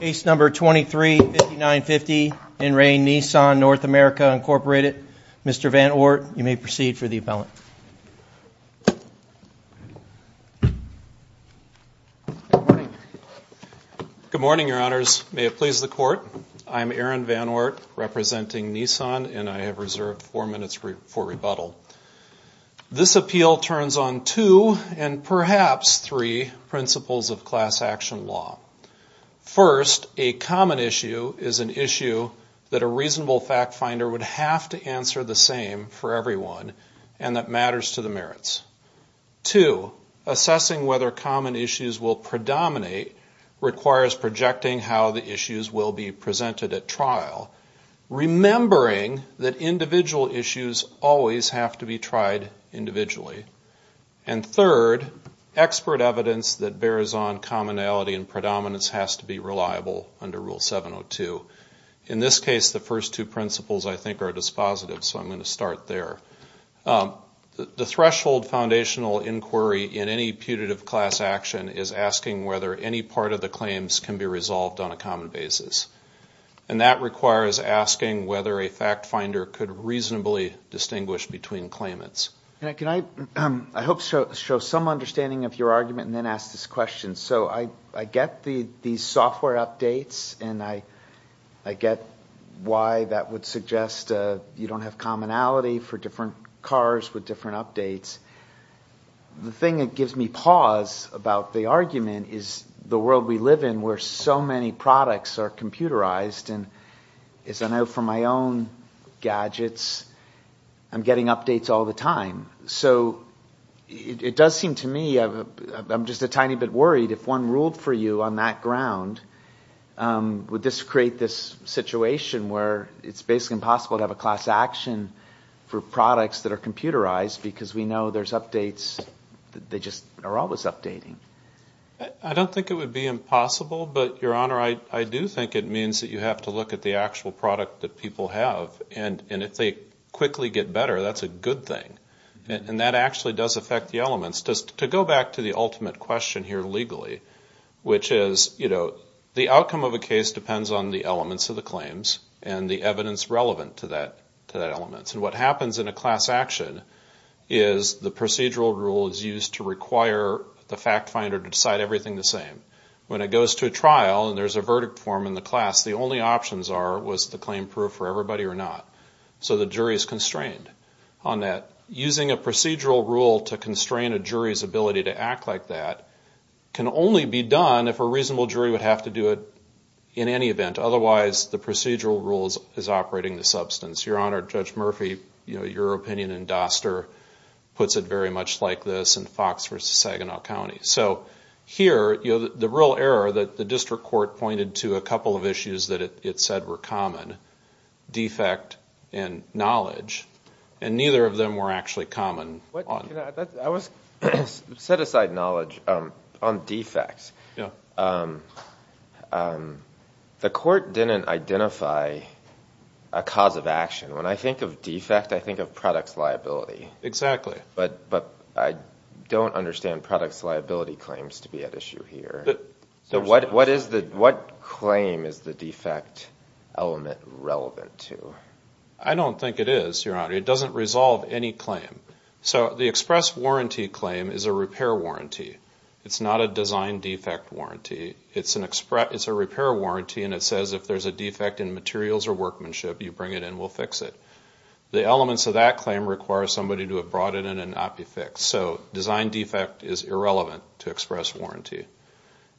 Ace number 23 950 in rain Nissan North America Incorporated. Mr. Van or you may proceed for the appellant Good morning, your honors. May it please the court? I'm Aaron van or representing Nissan and I have reserved four minutes for rebuttal This appeal turns on two and perhaps three principles of class action law First a common issue is an issue That a reasonable fact-finder would have to answer the same for everyone and that matters to the merits to Assessing whether common issues will predominate Requires projecting how the issues will be presented at trial remembering that individual issues always have to be tried individually and third Expert evidence that bears on commonality and predominance has to be reliable under rule 702 in this case The first two principles I think are dispositive. So I'm going to start there the threshold Foundational inquiry in any putative class action is asking whether any part of the claims can be resolved on a common basis And that requires asking whether a fact-finder could reasonably distinguish between claimants Can I um, I hope so show some understanding of your argument and then ask this question so I I get the these software updates and I I Get why that would suggest you don't have commonality for different cars with different updates The thing that gives me pause about the argument is the world we live in where so many products are computerized And as I know from my own gadgets I'm getting updates all the time. So It does seem to me. I'm just a tiny bit worried if one ruled for you on that ground Would this create this situation where it's basically impossible to have a class action For products that are computerized because we know there's updates They just are always updating. I don't think it would be impossible. But your honor I I do think it means that you have to look at the actual product that people have and and if they Quickly get better. That's a good thing and that actually does affect the elements just to go back to the ultimate question here legally Which is you know the outcome of a case depends on the elements of the claims and the evidence relevant to that to that elements and what happens in a class action is The procedural rule is used to require the fact finder to decide everything the same When it goes to a trial and there's a verdict form in the class The only options are was the claim proof for everybody or not So the jury is constrained on that using a procedural rule to constrain a jury's ability to act like that Can only be done if a reasonable jury would have to do it in any event Otherwise the procedural rules is operating the substance your honor judge Murphy, you know your opinion and Doster Puts it very much like this and Fox versus Saginaw County So here you know the real error that the district court pointed to a couple of issues that it said were common defect and Knowledge and neither of them were actually common Set aside knowledge on defects The court didn't identify a Cause of action when I think of defect I think of products liability exactly But but I don't understand products liability claims to be at issue here So what what is that? What claim is the defect? Element relevant to I don't think it is your honor. It doesn't resolve any claim So the express warranty claim is a repair warranty. It's not a design defect warranty It's an express It's a repair warranty and it says if there's a defect in materials or workmanship you bring it in we'll fix it The elements of that claim requires somebody to have brought it in and not be fixed so design defect is irrelevant to express warranty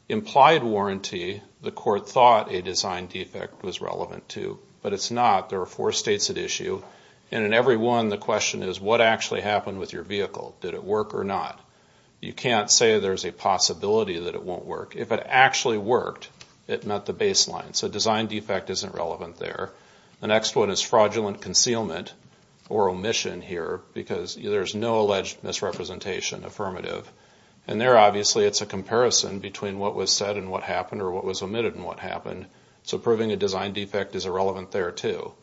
Implied warranty the court thought a design defect was relevant too But it's not there are four states at issue and in every one The question is what actually happened with your vehicle? Did it work or not? You can't say there's a possibility that it won't work if it actually worked it met the baseline So design defect isn't relevant there. The next one is fraudulent concealment or omission here because there's no alleged Misrepresentation affirmative and there obviously it's a comparison between what was said and what happened or what was omitted and what happened? So proving a design defect is irrelevant there, too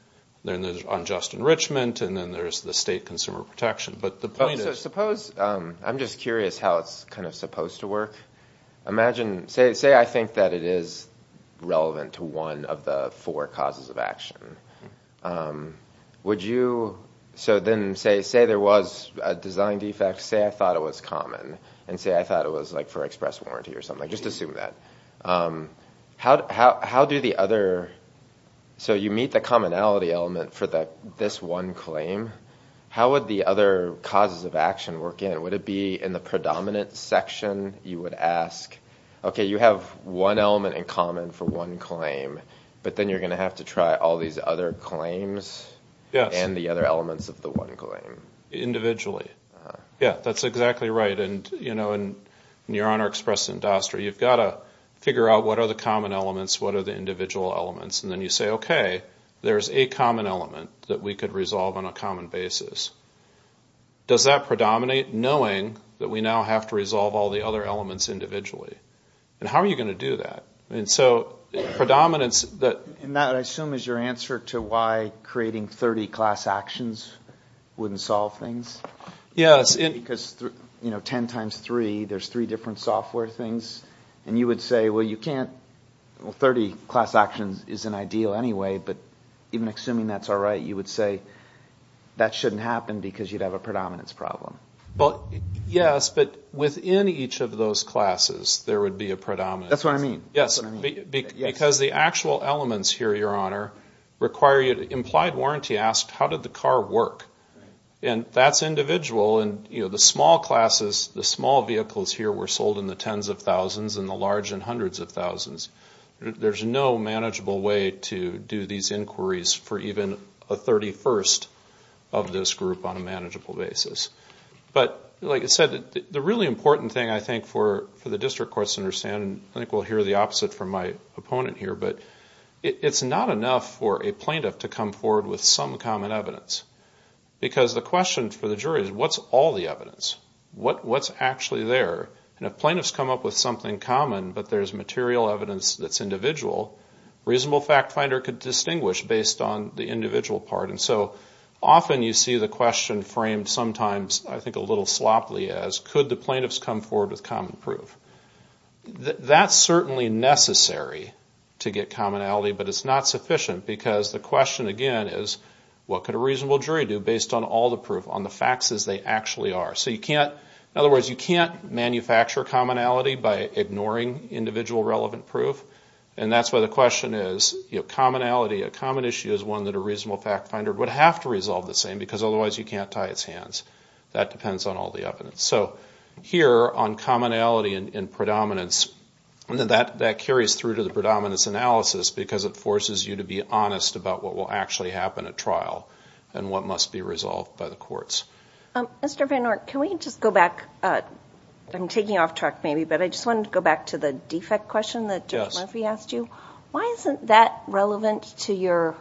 Then there's unjust enrichment and then there's the state consumer protection But the point is suppose I'm just curious how it's kind of supposed to work Imagine say say I think that it is Relevant to one of the four causes of action Would you so then say say there was a design defect say I thought it was common and say I thought it was like For express warranty or something just assume that How do the other? So you meet the commonality element for that this one claim How would the other causes of action work in it would it be in the predominant section you would ask? Okay, you have one element in common for one claim, but then you're gonna have to try all these other claims Yeah, and the other elements of the one claim Individually. Yeah, that's exactly right. And you know and your honor expressed in Doster You've got to figure out what are the common elements? What are the individual elements and then you say, okay? There's a common element that we could resolve on a common basis Does that predominate knowing that we now have to resolve all the other elements individually? And how are you going to do that? And so? Predominance that and that I assume is your answer to why creating 30 class actions Wouldn't solve things Yes And because you know 10 times 3 there's 3 different software things and you would say well you can't Well 30 class actions is an ideal anyway, but even assuming that's alright you would say That shouldn't happen because you'd have a predominance problem But yes, but within each of those classes there would be a predominance. That's what I mean. Yes Because the actual elements here your honor Require you to implied warranty asked how did the car work? And that's individual and you know the small classes the small vehicles here were sold in the tens of thousands and the large and hundreds of thousands There's no manageable way to do these inquiries for even a 31st of this group on a manageable basis but like I said the really important thing I think for for the district courts understand and I think we'll hear the opposite from my opponent here, but It's not enough for a plaintiff to come forward with some common evidence Because the question for the jury is what's all the evidence? What what's actually there and if plaintiffs come up with something common, but there's material evidence that's individual Reasonable fact finder could distinguish based on the individual part and so often you see the question framed sometimes I think a little sloppily as could the plaintiffs come forward with common proof That's certainly necessary to get commonality But it's not sufficient because the question again is What could a reasonable jury do based on all the proof on the facts as they actually are so you can't in other words you can't? manufacture commonality by ignoring individual relevant proof And that's why the question is you have commonality a common issue is one that a reasonable fact finder would have to resolve the same Because otherwise you can't tie its hands that depends on all the evidence so here on commonality and in predominance And that that carries through to the predominance analysis because it forces you to be honest about what will actually happen at trial And what must be resolved by the courts? Mr.. Van or can we just go back? I'm taking off track maybe but I just wanted to go back to the defect question that just Murphy asked you Why isn't that relevant to your?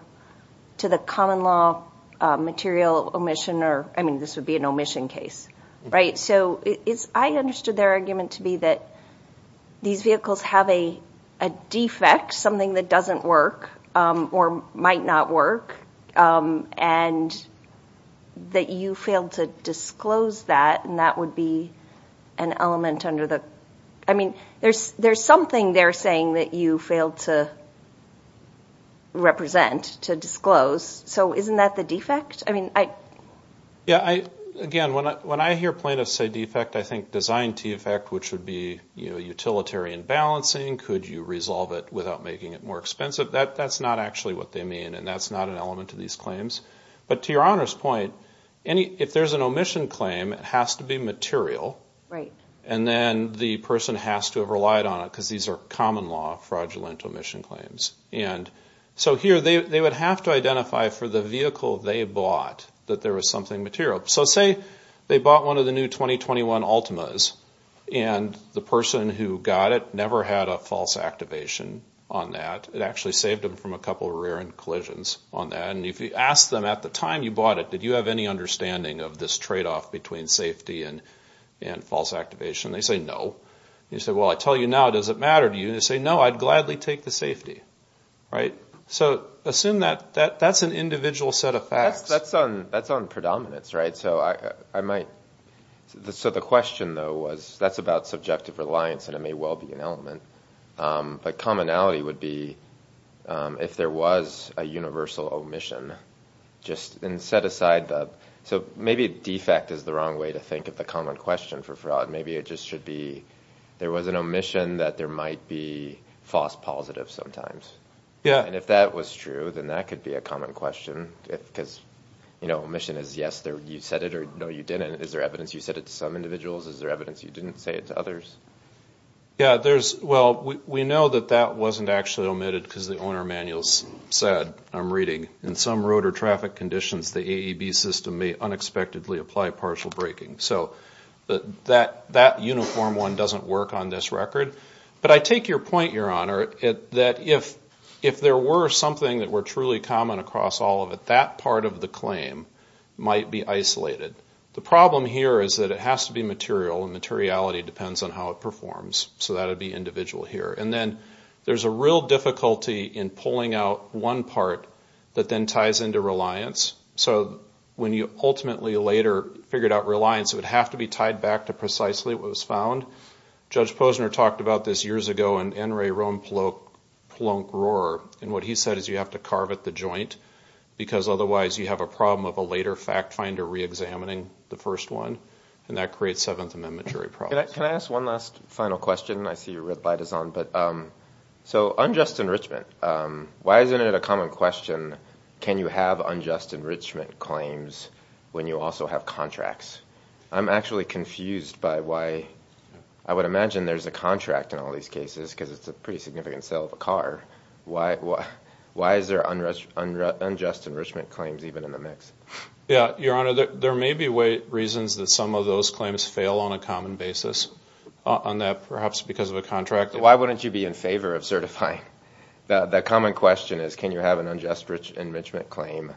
to the common law Material omission or I mean this would be an omission case right so it's I understood their argument to be that these vehicles have a Defect something that doesn't work or might not work and that you failed to disclose that and that would be an Element under the I mean there's there's something they're saying that you failed to Represent to disclose so isn't that the defect I mean I Yeah, I again when I when I hear plaintiffs say defect. I think design t effect Which would be you know utilitarian balancing could you resolve it without making it more expensive that that's not actually what they mean And that's not an element of these claims, but to your honors point any if there's an omission claim It has to be material right and then the person has to have relied on it because these are common law fraudulent omission claims and So here they would have to identify for the vehicle they bought that there was something material So say they bought one of the new 2021 Altima's and the person who got it never had a false Activation on that it actually saved them from a couple of rear-end collisions on that and if you ask them at the time you bought It did you have any understanding of this trade-off between safety and and false activation they say no you said well I tell you now does it matter to you to say no? I'd gladly take the safety right so assume that that that's an individual set of facts. That's on that's on predominance, right? So I I might The so the question though was that's about subjective reliance, and it may well be an element but commonality would be If there was a universal omission Just and set aside the so maybe defect is the wrong way to think of the common question for fraud Maybe it just should be there was an omission that there might be False positive sometimes yeah, and if that was true, then that could be a common question if because you know mission is yes There you said it or no you didn't is there evidence you said it to some individuals is there evidence? You didn't say it to others Yeah, there's well We know that that wasn't actually omitted because the owner manuals Said I'm reading in some road or traffic conditions the AEB system may unexpectedly apply partial braking so But that that uniform one doesn't work on this record But I take your point your honor it that if if there were something that were truly common across all of it that part of the claim Might be isolated the problem here is that it has to be material and materiality depends on how it performs So that would be individual here, and then there's a real difficulty in pulling out one part that then ties into reliance So when you ultimately later figured out reliance it would have to be tied back to precisely what was found Judge Posner talked about this years ago and NRA Rome Polo Polo grower and what he said is you have to carve at the joint Because otherwise you have a problem of a later fact finder re-examining the first one and that creates Seventh Amendment jury Can I ask one last final question? I see your red light is on but So unjust enrichment Why isn't it a common question? Can you have unjust enrichment claims when you also have contracts? I'm actually confused by why I would imagine there's a contract in all these cases because it's a pretty significant sale of a car Why what why is there unrest under unjust enrichment claims even in the mix? Yeah, your honor there may be weight reasons that some of those claims fail on a common basis on that perhaps because of a contract Why wouldn't you be in favor of certifying? That common question is can you have an unjust enrichment claim?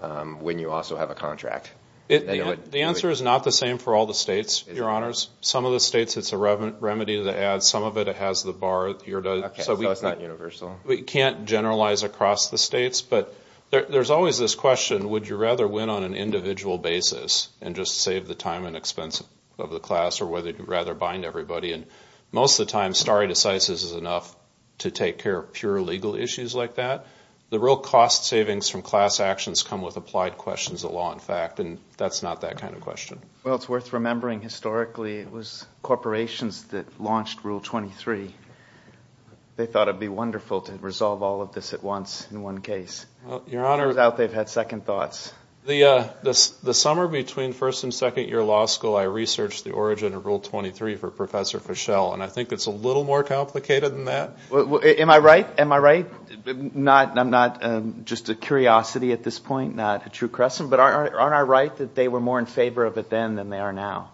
When you also have a contract it the answer is not the same for all the states your honors some of the states It's a relevant remedy to the ad some of it. It has the bar here does so It's not universal. We can't generalize across the states, but there's always this question Would you rather win on an individual? basis and just save the time and expense of the class or whether you'd rather bind everybody and Most of the time stare decisis is enough to take care of pure legal issues like that The real cost savings from class actions come with applied questions of law in fact, and that's not that kind of question Well, it's worth remembering historically. It was corporations that launched rule 23 They thought it'd be wonderful to resolve all of this at once in one case your honor out They've had second thoughts the this the summer between first and second year law school I researched the origin of rule 23 for professor Fischel, and I think it's a little more complicated than that well Am I right am I right? Not and I'm not just a curiosity at this point not a true Crescent But aren't aren't I right that they were more in favor of it then than they are now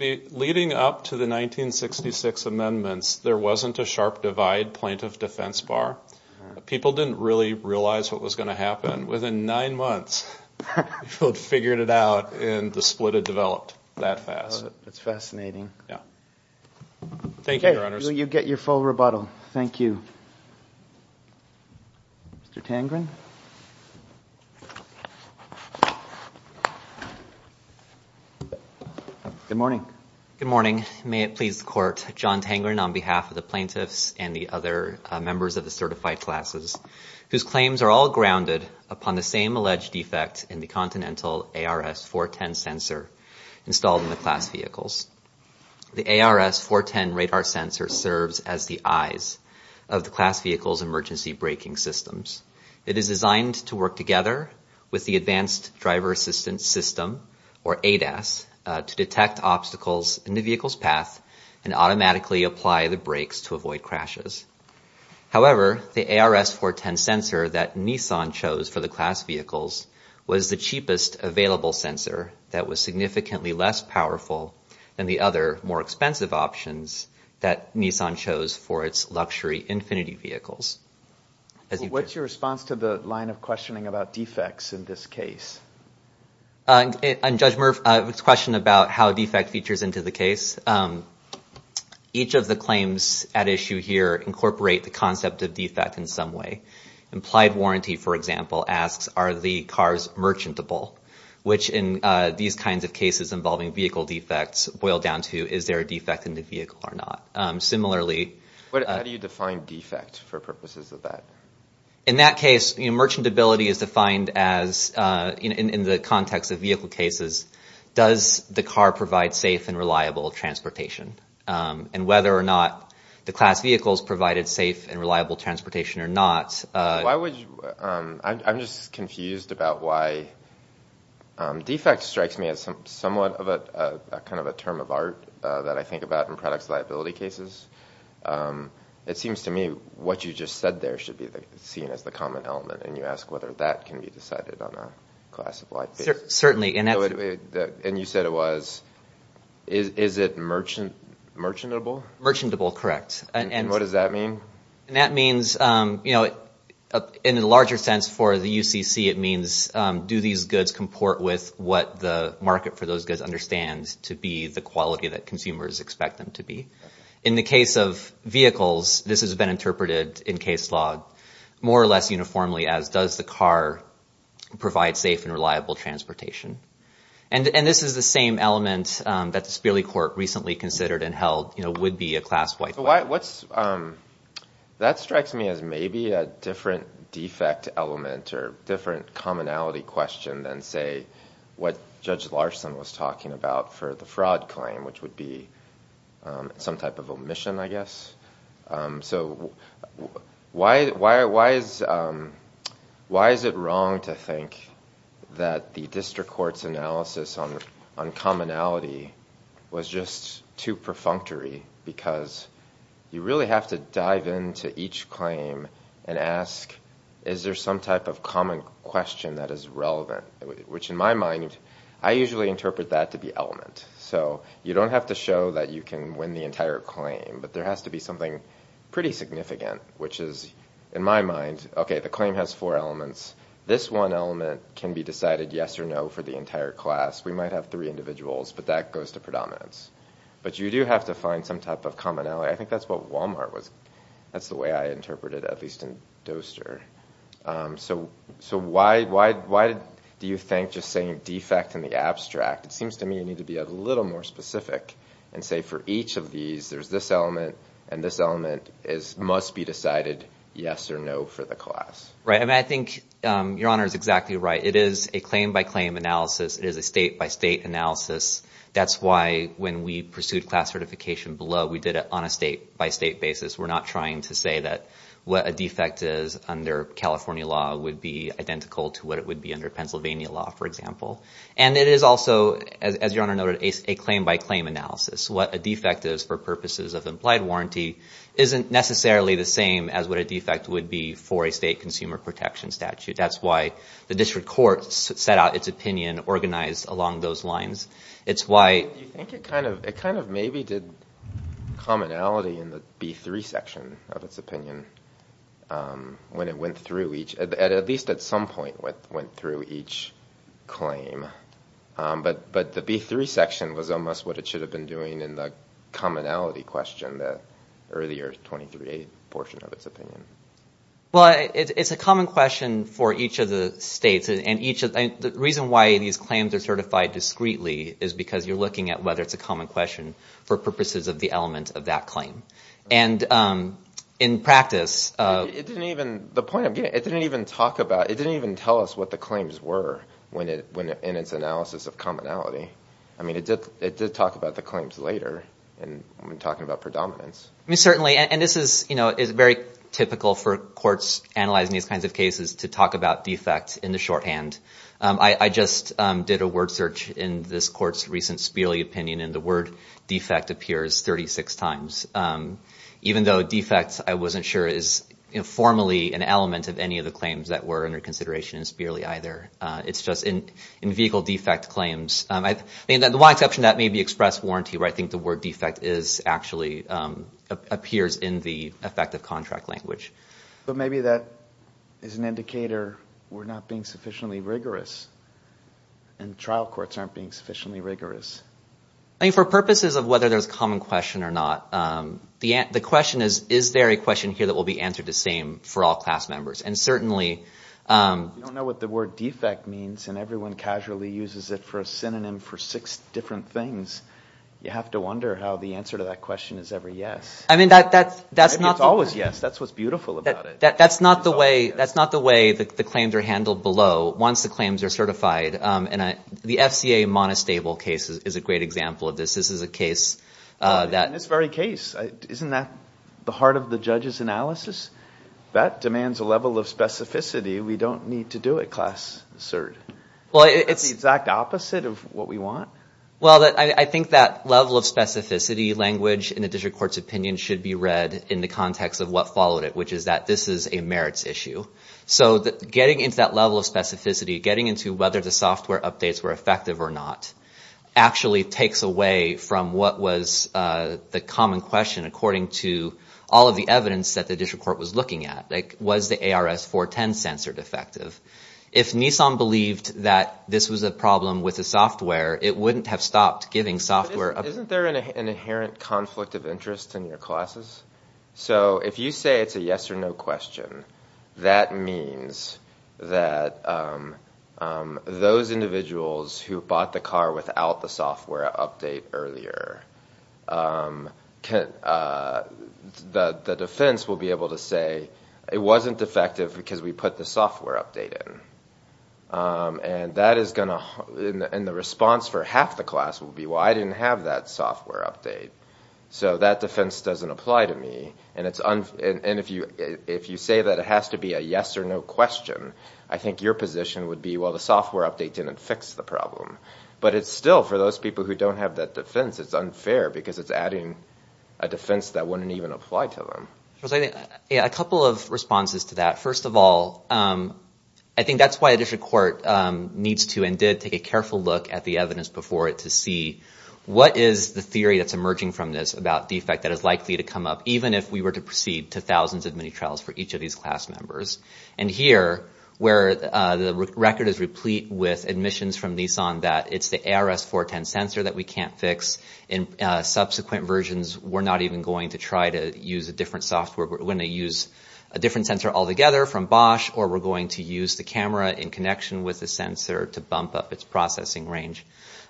leading up to the 1966 amendments there wasn't a sharp divide point of defense bar People didn't really realize what was going to happen within nine months Figured it out and the split had developed that fast. It's fascinating. Yeah Thank you. You get your full rebuttal. Thank you Mr. Tangren Good morning. Good morning May it please the court John Tangren on behalf of the plaintiffs and the other members of the certified classes Whose claims are all grounded upon the same alleged defect in the continental ARS 410 sensor installed in the class vehicles The ARS 410 radar sensor serves as the eyes of the class vehicles emergency braking systems It is designed to work together with the advanced driver assistance system or ADAS To detect obstacles in the vehicle's path and automatically apply the brakes to avoid crashes However, the ARS 410 sensor that Nissan chose for the class vehicles was the cheapest available sensor That was significantly less powerful than the other more expensive options that Nissan chose for its luxury Infinity vehicles as you what's your response to the line of questioning about defects in this case? And judge Murph its question about how defect features into the case Each of the claims at issue here incorporate the concept of defect in some way Implied warranty, for example asks are the cars merchantable? Which in these kinds of cases involving vehicle defects boil down to is there a defect in the vehicle or not? Similarly, what do you define defect for purposes of that in that case? You know merchantability is defined as in the context of vehicle cases Does the car provide safe and reliable of transportation and whether or not the class vehicles provided safe and reliable Transportation or not. Why would you I'm just confused about why? Defect strikes me as some somewhat of a kind of a term of art that I think about in products liability cases It seems to me what you just said There should be the seen as the common element and you ask whether that can be decided on a class of life Certainly in a way that and you said it was Is it merchant? Merchantable merchantable correct. And what does that mean? And that means, you know in a larger sense for the UCC it means Do these goods comport with what the market for those goods understand to be the quality that consumers expect them to be in? the case of Vehicles, this has been interpreted in case law more or less uniformly as does the car Provide safe and reliable transportation and and this is the same element that the Sperling court recently considered and held You know would be a class white. Why what's? That strikes me as maybe a different defect element or different commonality question than say What judge Larson was talking about for the fraud claim, which would be? some type of omission, I guess so Why why why is? Why is it wrong to think that the district courts analysis on uncommon ality was just too perfunctory because You really have to dive into each claim and ask is there some type of common question? That is relevant which in my mind. I usually interpret that to be element So you don't have to show that you can win the entire claim, but there has to be something pretty significant Which is in my mind, okay, the claim has four elements. This one element can be decided. Yes or no for the entire class We might have three individuals, but that goes to predominance, but you do have to find some type of commonality I think that's what Walmart was. That's the way I interpreted at least in Doster So so why why why do you think just saying defect in the abstract? It seems to me you need to be a little more specific and say for each of these There's this element and this element is must be decided. Yes or no for the class, right? I mean, I think your honor is exactly right. It is a claim by claim analysis. It is a state-by-state analysis That's why when we pursued class certification below we did it on a state-by-state basis We're not trying to say that what a defect is under California law would be Identical to what it would be under Pennsylvania law for example And it is also as your honor noted a claim-by-claim analysis what a defect is for purposes of implied warranty Isn't necessarily the same as what a defect would be for a state consumer protection statute That's why the district courts set out its opinion organized along those lines. It's why It kind of maybe did Commonality in the b3 section of its opinion When it went through each at least at some point what went through each Claim but but the b3 section was almost what it should have been doing in the Commonality question that earlier 23 a portion of its opinion Well, it's a common question for each of the states and each of the reason why these claims are certified discreetly is because you're looking at whether it's a common question for purposes of the element of that claim and in practice The point I'm getting it didn't even talk about it didn't even tell us what the claims were When it went in its analysis of commonality I mean it did it did talk about the claims later and I'm talking about predominance I mean certainly and this is you know It's very typical for courts analyzing these kinds of cases to talk about defects in the shorthand I I just did a word search in this court's recent Spearley opinion and the word defect appears 36 times Even though defects I wasn't sure is Informally an element of any of the claims that were under consideration is barely either It's just in in vehicle defect claims. I mean that the one exception that may be express warranty where I think the word defect is actually Appears in the effective contract language, but maybe that is an indicator. We're not being sufficiently rigorous and Trial courts aren't being sufficiently rigorous. I mean for purposes of whether there's common question or not The ant the question is is there a question here that will be answered the same for all class members and certainly You don't know what the word defect means and everyone casually uses it for a synonym for six different things You have to wonder how the answer to that question is ever. Yes, I mean that that's that's not always. Yes That's what's beautiful about it That's not the way that's not the way that the claims are handled below once the claims are certified And I the FCA monostable cases is a great example of this. This is a case That in this very case, isn't that the heart of the judges analysis that demands a level of specificity We don't need to do it class cert. Well, it's exact opposite of what we want Well that I think that level of specificity Language in the district courts opinion should be read in the context of what followed it Which is that this is a merits issue So that getting into that level of specificity getting into whether the software updates were effective or not Actually takes away from what was The common question according to all of the evidence that the district court was looking at like was the ARS 410 censored effective If Nissan believed that this was a problem with the software It wouldn't have stopped giving software isn't there an inherent conflict of interest in your classes? So if you say it's a yes-or-no question that means that Those individuals who bought the car without the software update earlier Can The the defense will be able to say it wasn't effective because we put the software update in And that is gonna in the response for half the class will be why I didn't have that software update So that defense doesn't apply to me and it's on and if you if you say that it has to be a yes-or-no Question I think your position would be well the software update didn't fix the problem But it's still for those people who don't have that defense It's unfair because it's adding a defense that wouldn't even apply to them I was like a couple of responses to that. First of all, I think that's why a district court Needs to and did take a careful look at the evidence before it to see What is the theory that's emerging from this about defect that is likely to come up even if we were to proceed to thousands of Trials for each of these class members and here where the record is replete with admissions from Nissan that it's the ARS 410 sensor that we can't fix in Subsequent versions. We're not even going to try to use a different software we're going to use a Different sensor all together from Bosch or we're going to use the camera in connection with the sensor to bump up its processing range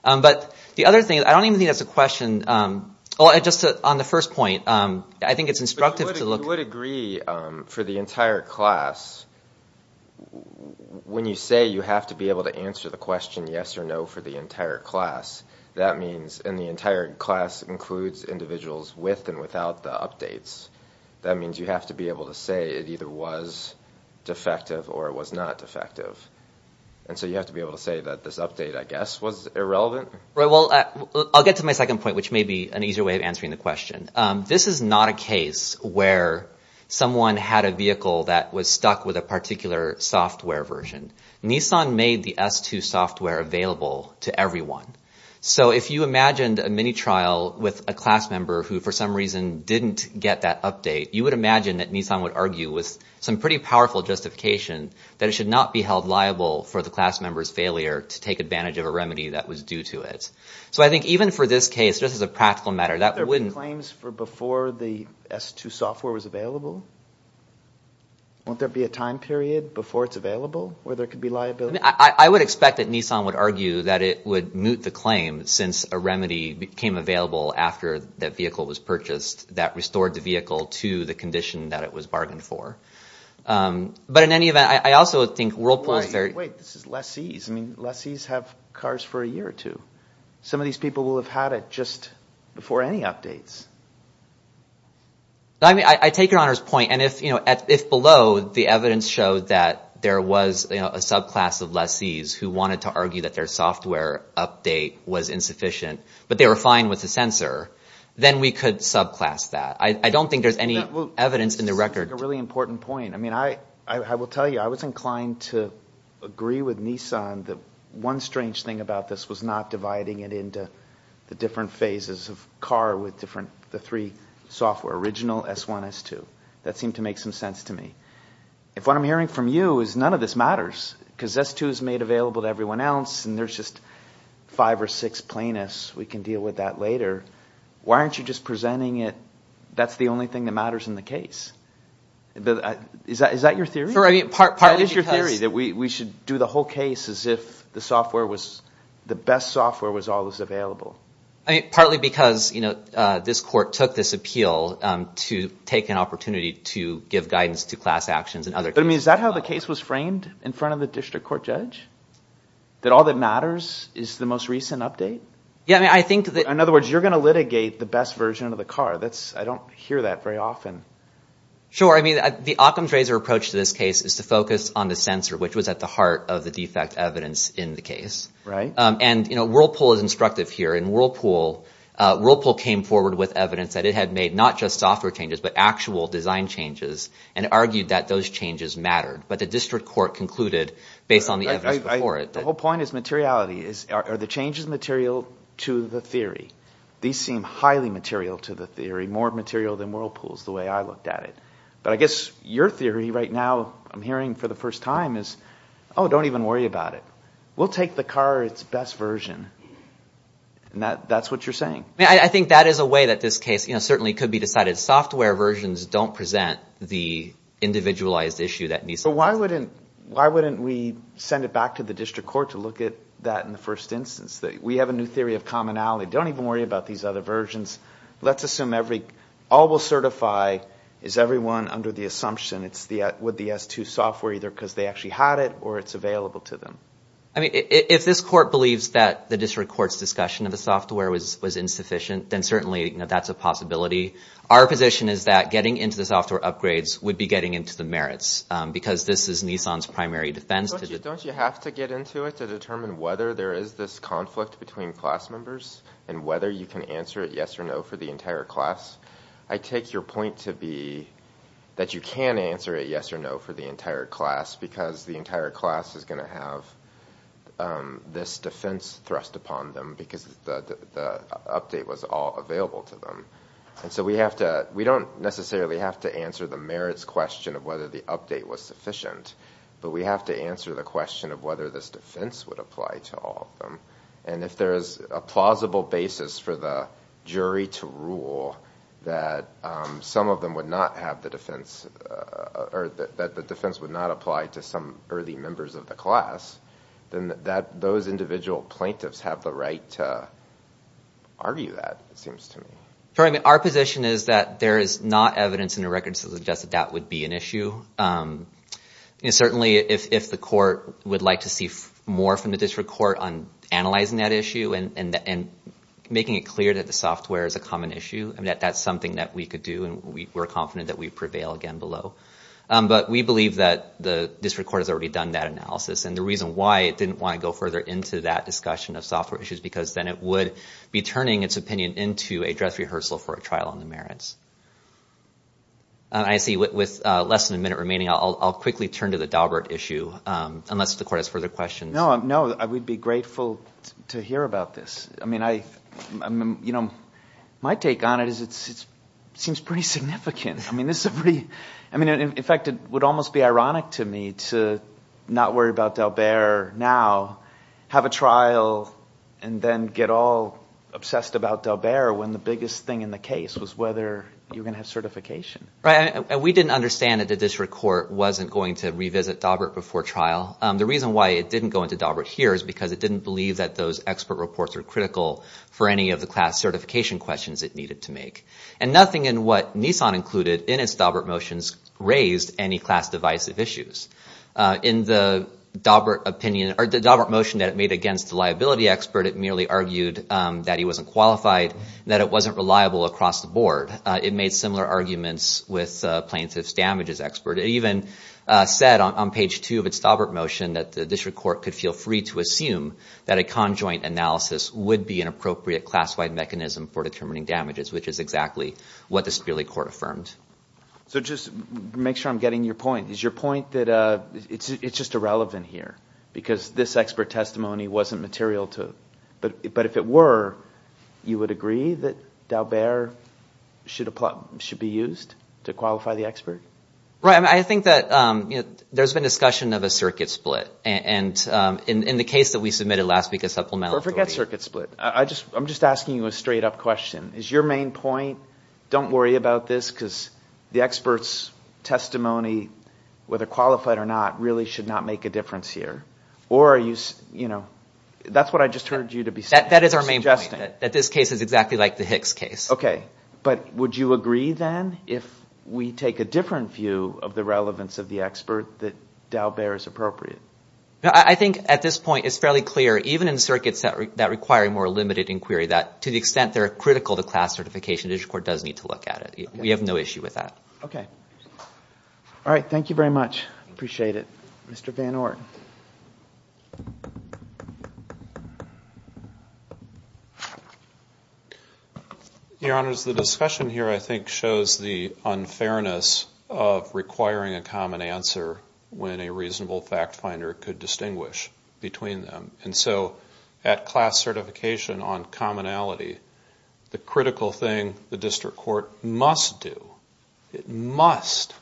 But the other thing I don't even think that's a question Well, I just on the first point I think it's instructive to look would agree for the entire class When you say you have to be able to answer the question yes or no for the entire class That means in the entire class includes individuals with and without the updates That means you have to be able to say it either was Defective or it was not defective. And so you have to be able to say that this update I guess was irrelevant, right? I'll get to my second point which may be an easier way of answering the question. This is not a case where Someone had a vehicle that was stuck with a particular software version Nissan made the s2 software available to everyone So if you imagined a mini trial with a class member who for some reason didn't get that update You would imagine that Nissan would argue with some pretty powerful Justification that it should not be held liable for the class members failure to take advantage of a remedy that was due to it So I think even for this case, this is a practical matter that wouldn't claims for before the s2 software was available Won't there be a time period before it's available where there could be liability I would expect that Nissan would argue that it would moot the claim since a remedy became available After that vehicle was purchased that restored the vehicle to the condition that it was bargained for But in any event, I also think role plays there. Wait, this is less ease. I mean less ease have cars for a year or two Some of these people will have had it just before any updates. I Mean I take your honors point and if you know at if below the evidence showed that there was a subclass of less ease Who wanted to argue that their software update was insufficient, but they were fine with the sensor then we could subclass that I don't think there's any evidence in the record a really important point. I mean, I I will tell you I was inclined to Dividing it into the different phases of car with different the three software original s1 s2 That seemed to make some sense to me if what I'm hearing from you is none of this matters because s2 is made available to everyone else and there's just Five or six plaintiffs we can deal with that later Why aren't you just presenting it? That's the only thing that matters in the case The is that is that your theory? Part part is your theory that we should do the whole case as if the software was the best software was always available I mean partly because you know This court took this appeal to take an opportunity to give guidance to class actions and other but I mean Is that how the case was framed in front of the district court judge? That all that matters is the most recent update Yeah, I mean, I think that in other words you're gonna litigate the best version of the car That's I don't hear that very often Sure, I mean the Occam's razor approach to this case is to focus on the sensor Which was at the heart of the defect evidence in the case, right? And you know Whirlpool is instructive here in Whirlpool Whirlpool came forward with evidence that it had made not just software changes But actual design changes and argued that those changes mattered, but the district court concluded based on the Whole point is materiality is are the changes material to the theory? These seem highly material to the theory more material than Whirlpool's the way I looked at it But I guess your theory right now. I'm hearing for the first time is oh, don't even worry about it. We'll take the car It's best version And that that's what you're saying I think that is a way that this case, you know, certainly could be decided software versions don't present the Individualized issue that me so why wouldn't why wouldn't we send it back to the district court to look at that in the first instance? We have a new theory of commonality. Don't even worry about these other versions Let's assume every all will certify is everyone under the assumption It's the with the s2 software either because they actually had it or it's available to them I mean if this court believes that the district courts discussion of the software was was insufficient then certainly, you know That's a possibility Our position is that getting into the software upgrades would be getting into the merits Because this is Nissan's primary defense don't you have to get into it to determine whether there is this conflict between class members and Whether you can answer it. Yes or no for the entire class. I take your point to be That you can answer it. Yes or no for the entire class because the entire class is going to have this defense thrust upon them because the Update was all available to them And so we have to we don't necessarily have to answer the merits question of whether the update was sufficient but we have to answer the question of whether this defense would apply to all of them and if there is a plausible basis for the jury to rule that Some of them would not have the defense Or that the defense would not apply to some early members of the class then that those individual plaintiffs have the right to Argue that it seems to me. Sorry. I mean our position is that there is not evidence in the record So just that that would be an issue you know, certainly if the court would like to see more from the district court on analyzing that issue and and Making it clear that the software is a common issue and that that's something that we could do and we were confident that we prevail again below But we believe that the district court has already done that analysis and the reason why it didn't want to go further into that Discussion of software issues because then it would be turning its opinion into a dress rehearsal for a trial on the merits. I See with less than a minute remaining. I'll quickly turn to the Daubert issue unless the court has further questions No, no, I would be grateful to hear about this. I mean I You know my take on it is it's it seems pretty significant I mean, this is a pretty I mean, in fact, it would almost be ironic to me to not worry about Daubert now Have a trial and then get all Obsessed about Daubert when the biggest thing in the case was whether you're gonna have certification, right? And we didn't understand that the district court wasn't going to revisit Daubert before trial The reason why it didn't go into Daubert here is because it didn't believe that those expert reports are critical For any of the class certification questions it needed to make and nothing in what Nissan included in its Daubert motions raised any class divisive issues In the Daubert opinion or the Daubert motion that it made against the liability expert It merely argued that he wasn't qualified that it wasn't reliable across the board it made similar arguments with plaintiffs damages expert even Said on page two of its Daubert motion that the district court could feel free to assume that a conjoint Analysis would be an appropriate class-wide mechanism for determining damages, which is exactly what the Sperling court affirmed So just make sure I'm getting your point is your point that uh It's just irrelevant here because this expert testimony wasn't material to but but if it were You would agree that Daubert Should apply should be used to qualify the expert, right? I think that you know There's been discussion of a circuit split and in the case that we submitted last week a supplemental forget circuit split I just I'm just asking you a straight-up question is your main point Don't worry about this because the experts Testimony whether qualified or not really should not make a difference here or are you you know? That's what I just heard you to be said that is our main justice that this case is exactly like the Hicks case Okay But would you agree then if we take a different view of the relevance of the expert that Daubert is appropriate? Yeah I think at this point is fairly clear even in circuits that require more limited inquiry that to the extent they're critical to class Certification digital court does need to look at it. We have no issue with that. Okay All right. Thank you very much. Appreciate it. Mr. Van Orton Your honors the discussion here I think shows the unfairness of requiring a common answer when a reasonable fact finder could distinguish between them and so at class certification on Commonality the critical thing the district court must do it must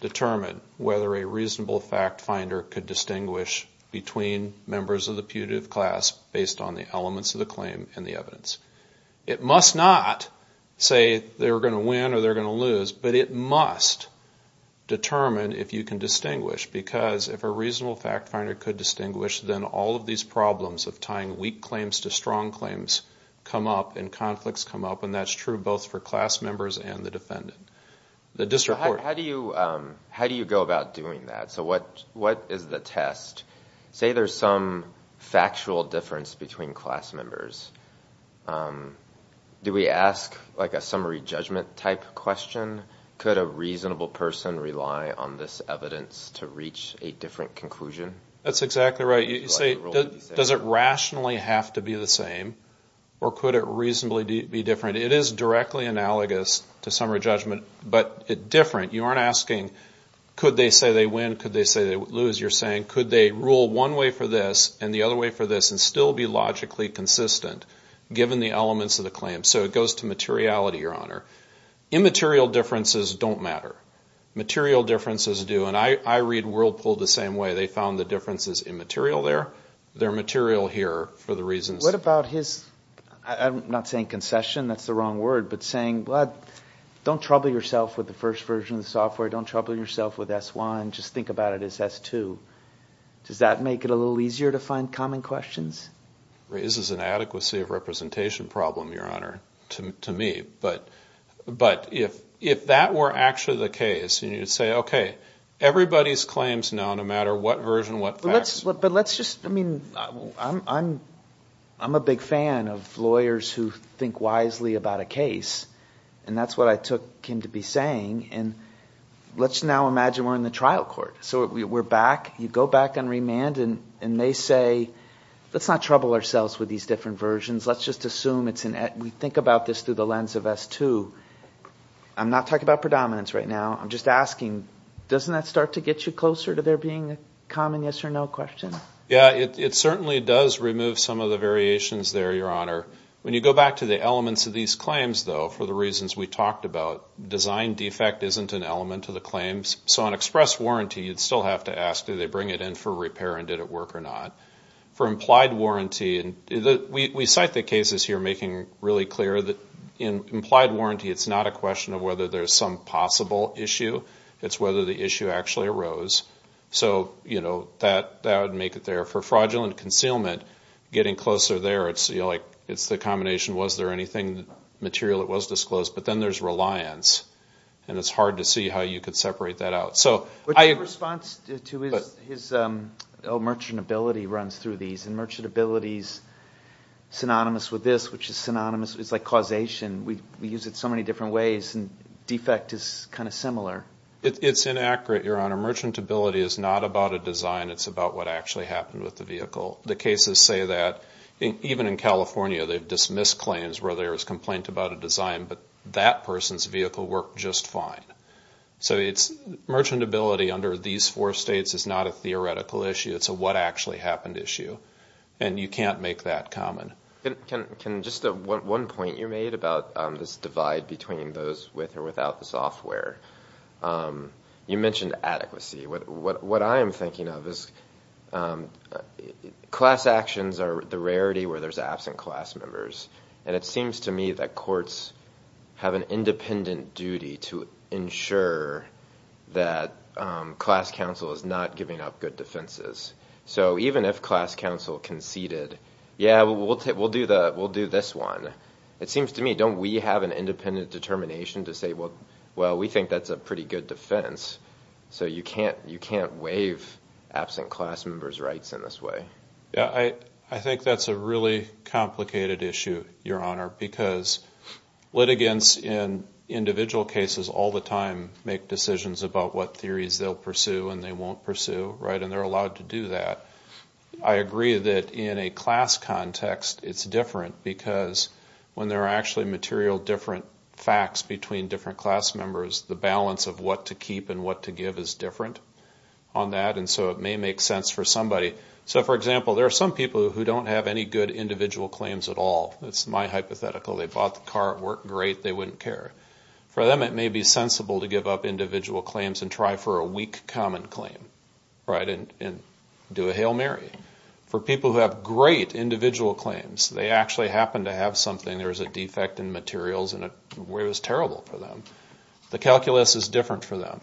Determine whether a reasonable fact finder could distinguish between Members of the putative class based on the elements of the claim and the evidence it must not Say they were going to win or they're going to lose, but it must Determine if you can distinguish because if a reasonable fact finder could distinguish then all of these problems of tying weak claims to strong claims Come up and conflicts come up and that's true both for class members and the defendant the district How do you how do you go about doing that? So what what is the test say there's some? factual difference between class members Do we ask like a summary judgment type question Could a reasonable person rely on this evidence to reach a different conclusion? That's exactly right You say does it rationally have to be the same? Or could it reasonably be different? It is directly analogous to summary judgment, but it different you aren't asking Could they say they win could they say they lose you're saying could they rule one way for this and the other way for this? And still be logically consistent Given the elements of the claim so it goes to materiality your honor immaterial differences don't matter Material differences do and I read whirlpool the same way they found the differences in material there their material here for the reasons What about his I'm not saying concession. That's the wrong word, but saying blood Don't trouble yourself with the first version of the software. Don't trouble yourself with s1. Just think about it as s2 Does that make it a little easier to find common questions? Raises an adequacy of representation problem your honor to me But but if if that were actually the case and you'd say okay Everybody's claims now no matter what version what let's look, but let's just I mean I'm I'm a big fan of lawyers who think wisely about a case and that's what I took him to be saying and Let's now imagine. We're in the trial court. So we're back you go back on remand and and they say Let's not trouble ourselves with these different versions. Let's just assume it's an ad we think about this through the lens of s2 I'm not talking about predominance right now. I'm just asking doesn't that start to get you closer to there being a common yes or no question Yeah, it certainly does remove some of the variations there your honor when you go back to the elements of these claims though for the reasons We talked about design defect isn't an element to the claims So on express warranty you'd still have to ask do they bring it in for repair and did it work or not? For implied warranty and the we cite the cases here making really clear that in implied warranty It's not a question of whether there's some possible issue. It's whether the issue actually arose So, you know that that would make it there for fraudulent concealment getting closer there It's you know, like it's the combination. Was there anything material? It was disclosed But then there's reliance and it's hard to see how you could separate that out. So I response to his merchant ability runs through these and merchant abilities Synonymous with this which is synonymous. It's like causation. We use it so many different ways and defect is kind of similar It's inaccurate your honor merchant ability is not about a design It's about what actually happened with the vehicle the cases say that even in California They've dismissed claims where there was complaint about a design, but that person's vehicle worked just fine So it's merchant ability under these four states is not a theoretical issue It's a what actually happened issue and you can't make that common Can just one point you made about this divide between those with or without the software? you mentioned adequacy what what I am thinking of is Class actions are the rarity where there's absent class members and it seems to me that courts Have an independent duty to ensure that Class counsel is not giving up good defenses. So even if class counsel conceded. Yeah, we'll take we'll do that We'll do this one. It seems to me. Don't we have an independent determination to say? Well, we think that's a pretty good defense so you can't you can't waive Absent class members rights in this way. Yeah, I I think that's a really complicated issue your honor because litigants in Individual cases all the time make decisions about what theories they'll pursue and they won't pursue right and they're allowed to do that I agree that in a class context it's different because When there are actually material different facts between different class members the balance of what to keep and what to give is different On that and so it may make sense for somebody So for example, there are some people who don't have any good individual claims at all. That's my hypothetical They bought the car at work great. They wouldn't care for them It may be sensible to give up individual claims and try for a weak common claim Right and do a Hail Mary for people who have great individual claims they actually happen to have something There's a defect in materials and it was terrible for them The calculus is different for them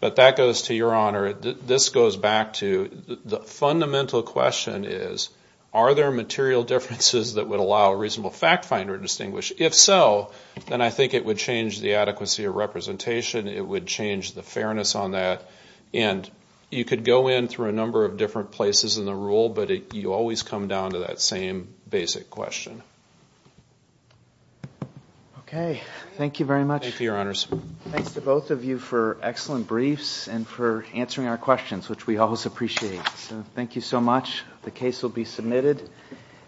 But that goes to your honor this goes back to the fundamental question is are there material differences? That would allow a reasonable fact finder to distinguish if so, then I think it would change the adequacy of representation It would change the fairness on that and you could go in through a number of different places in the rule But you always come down to that same basic question Okay, thank you very much your honors Thanks to both of you for excellent briefs and for answering our questions, which we always appreciate so thank you so much the case will be submitted and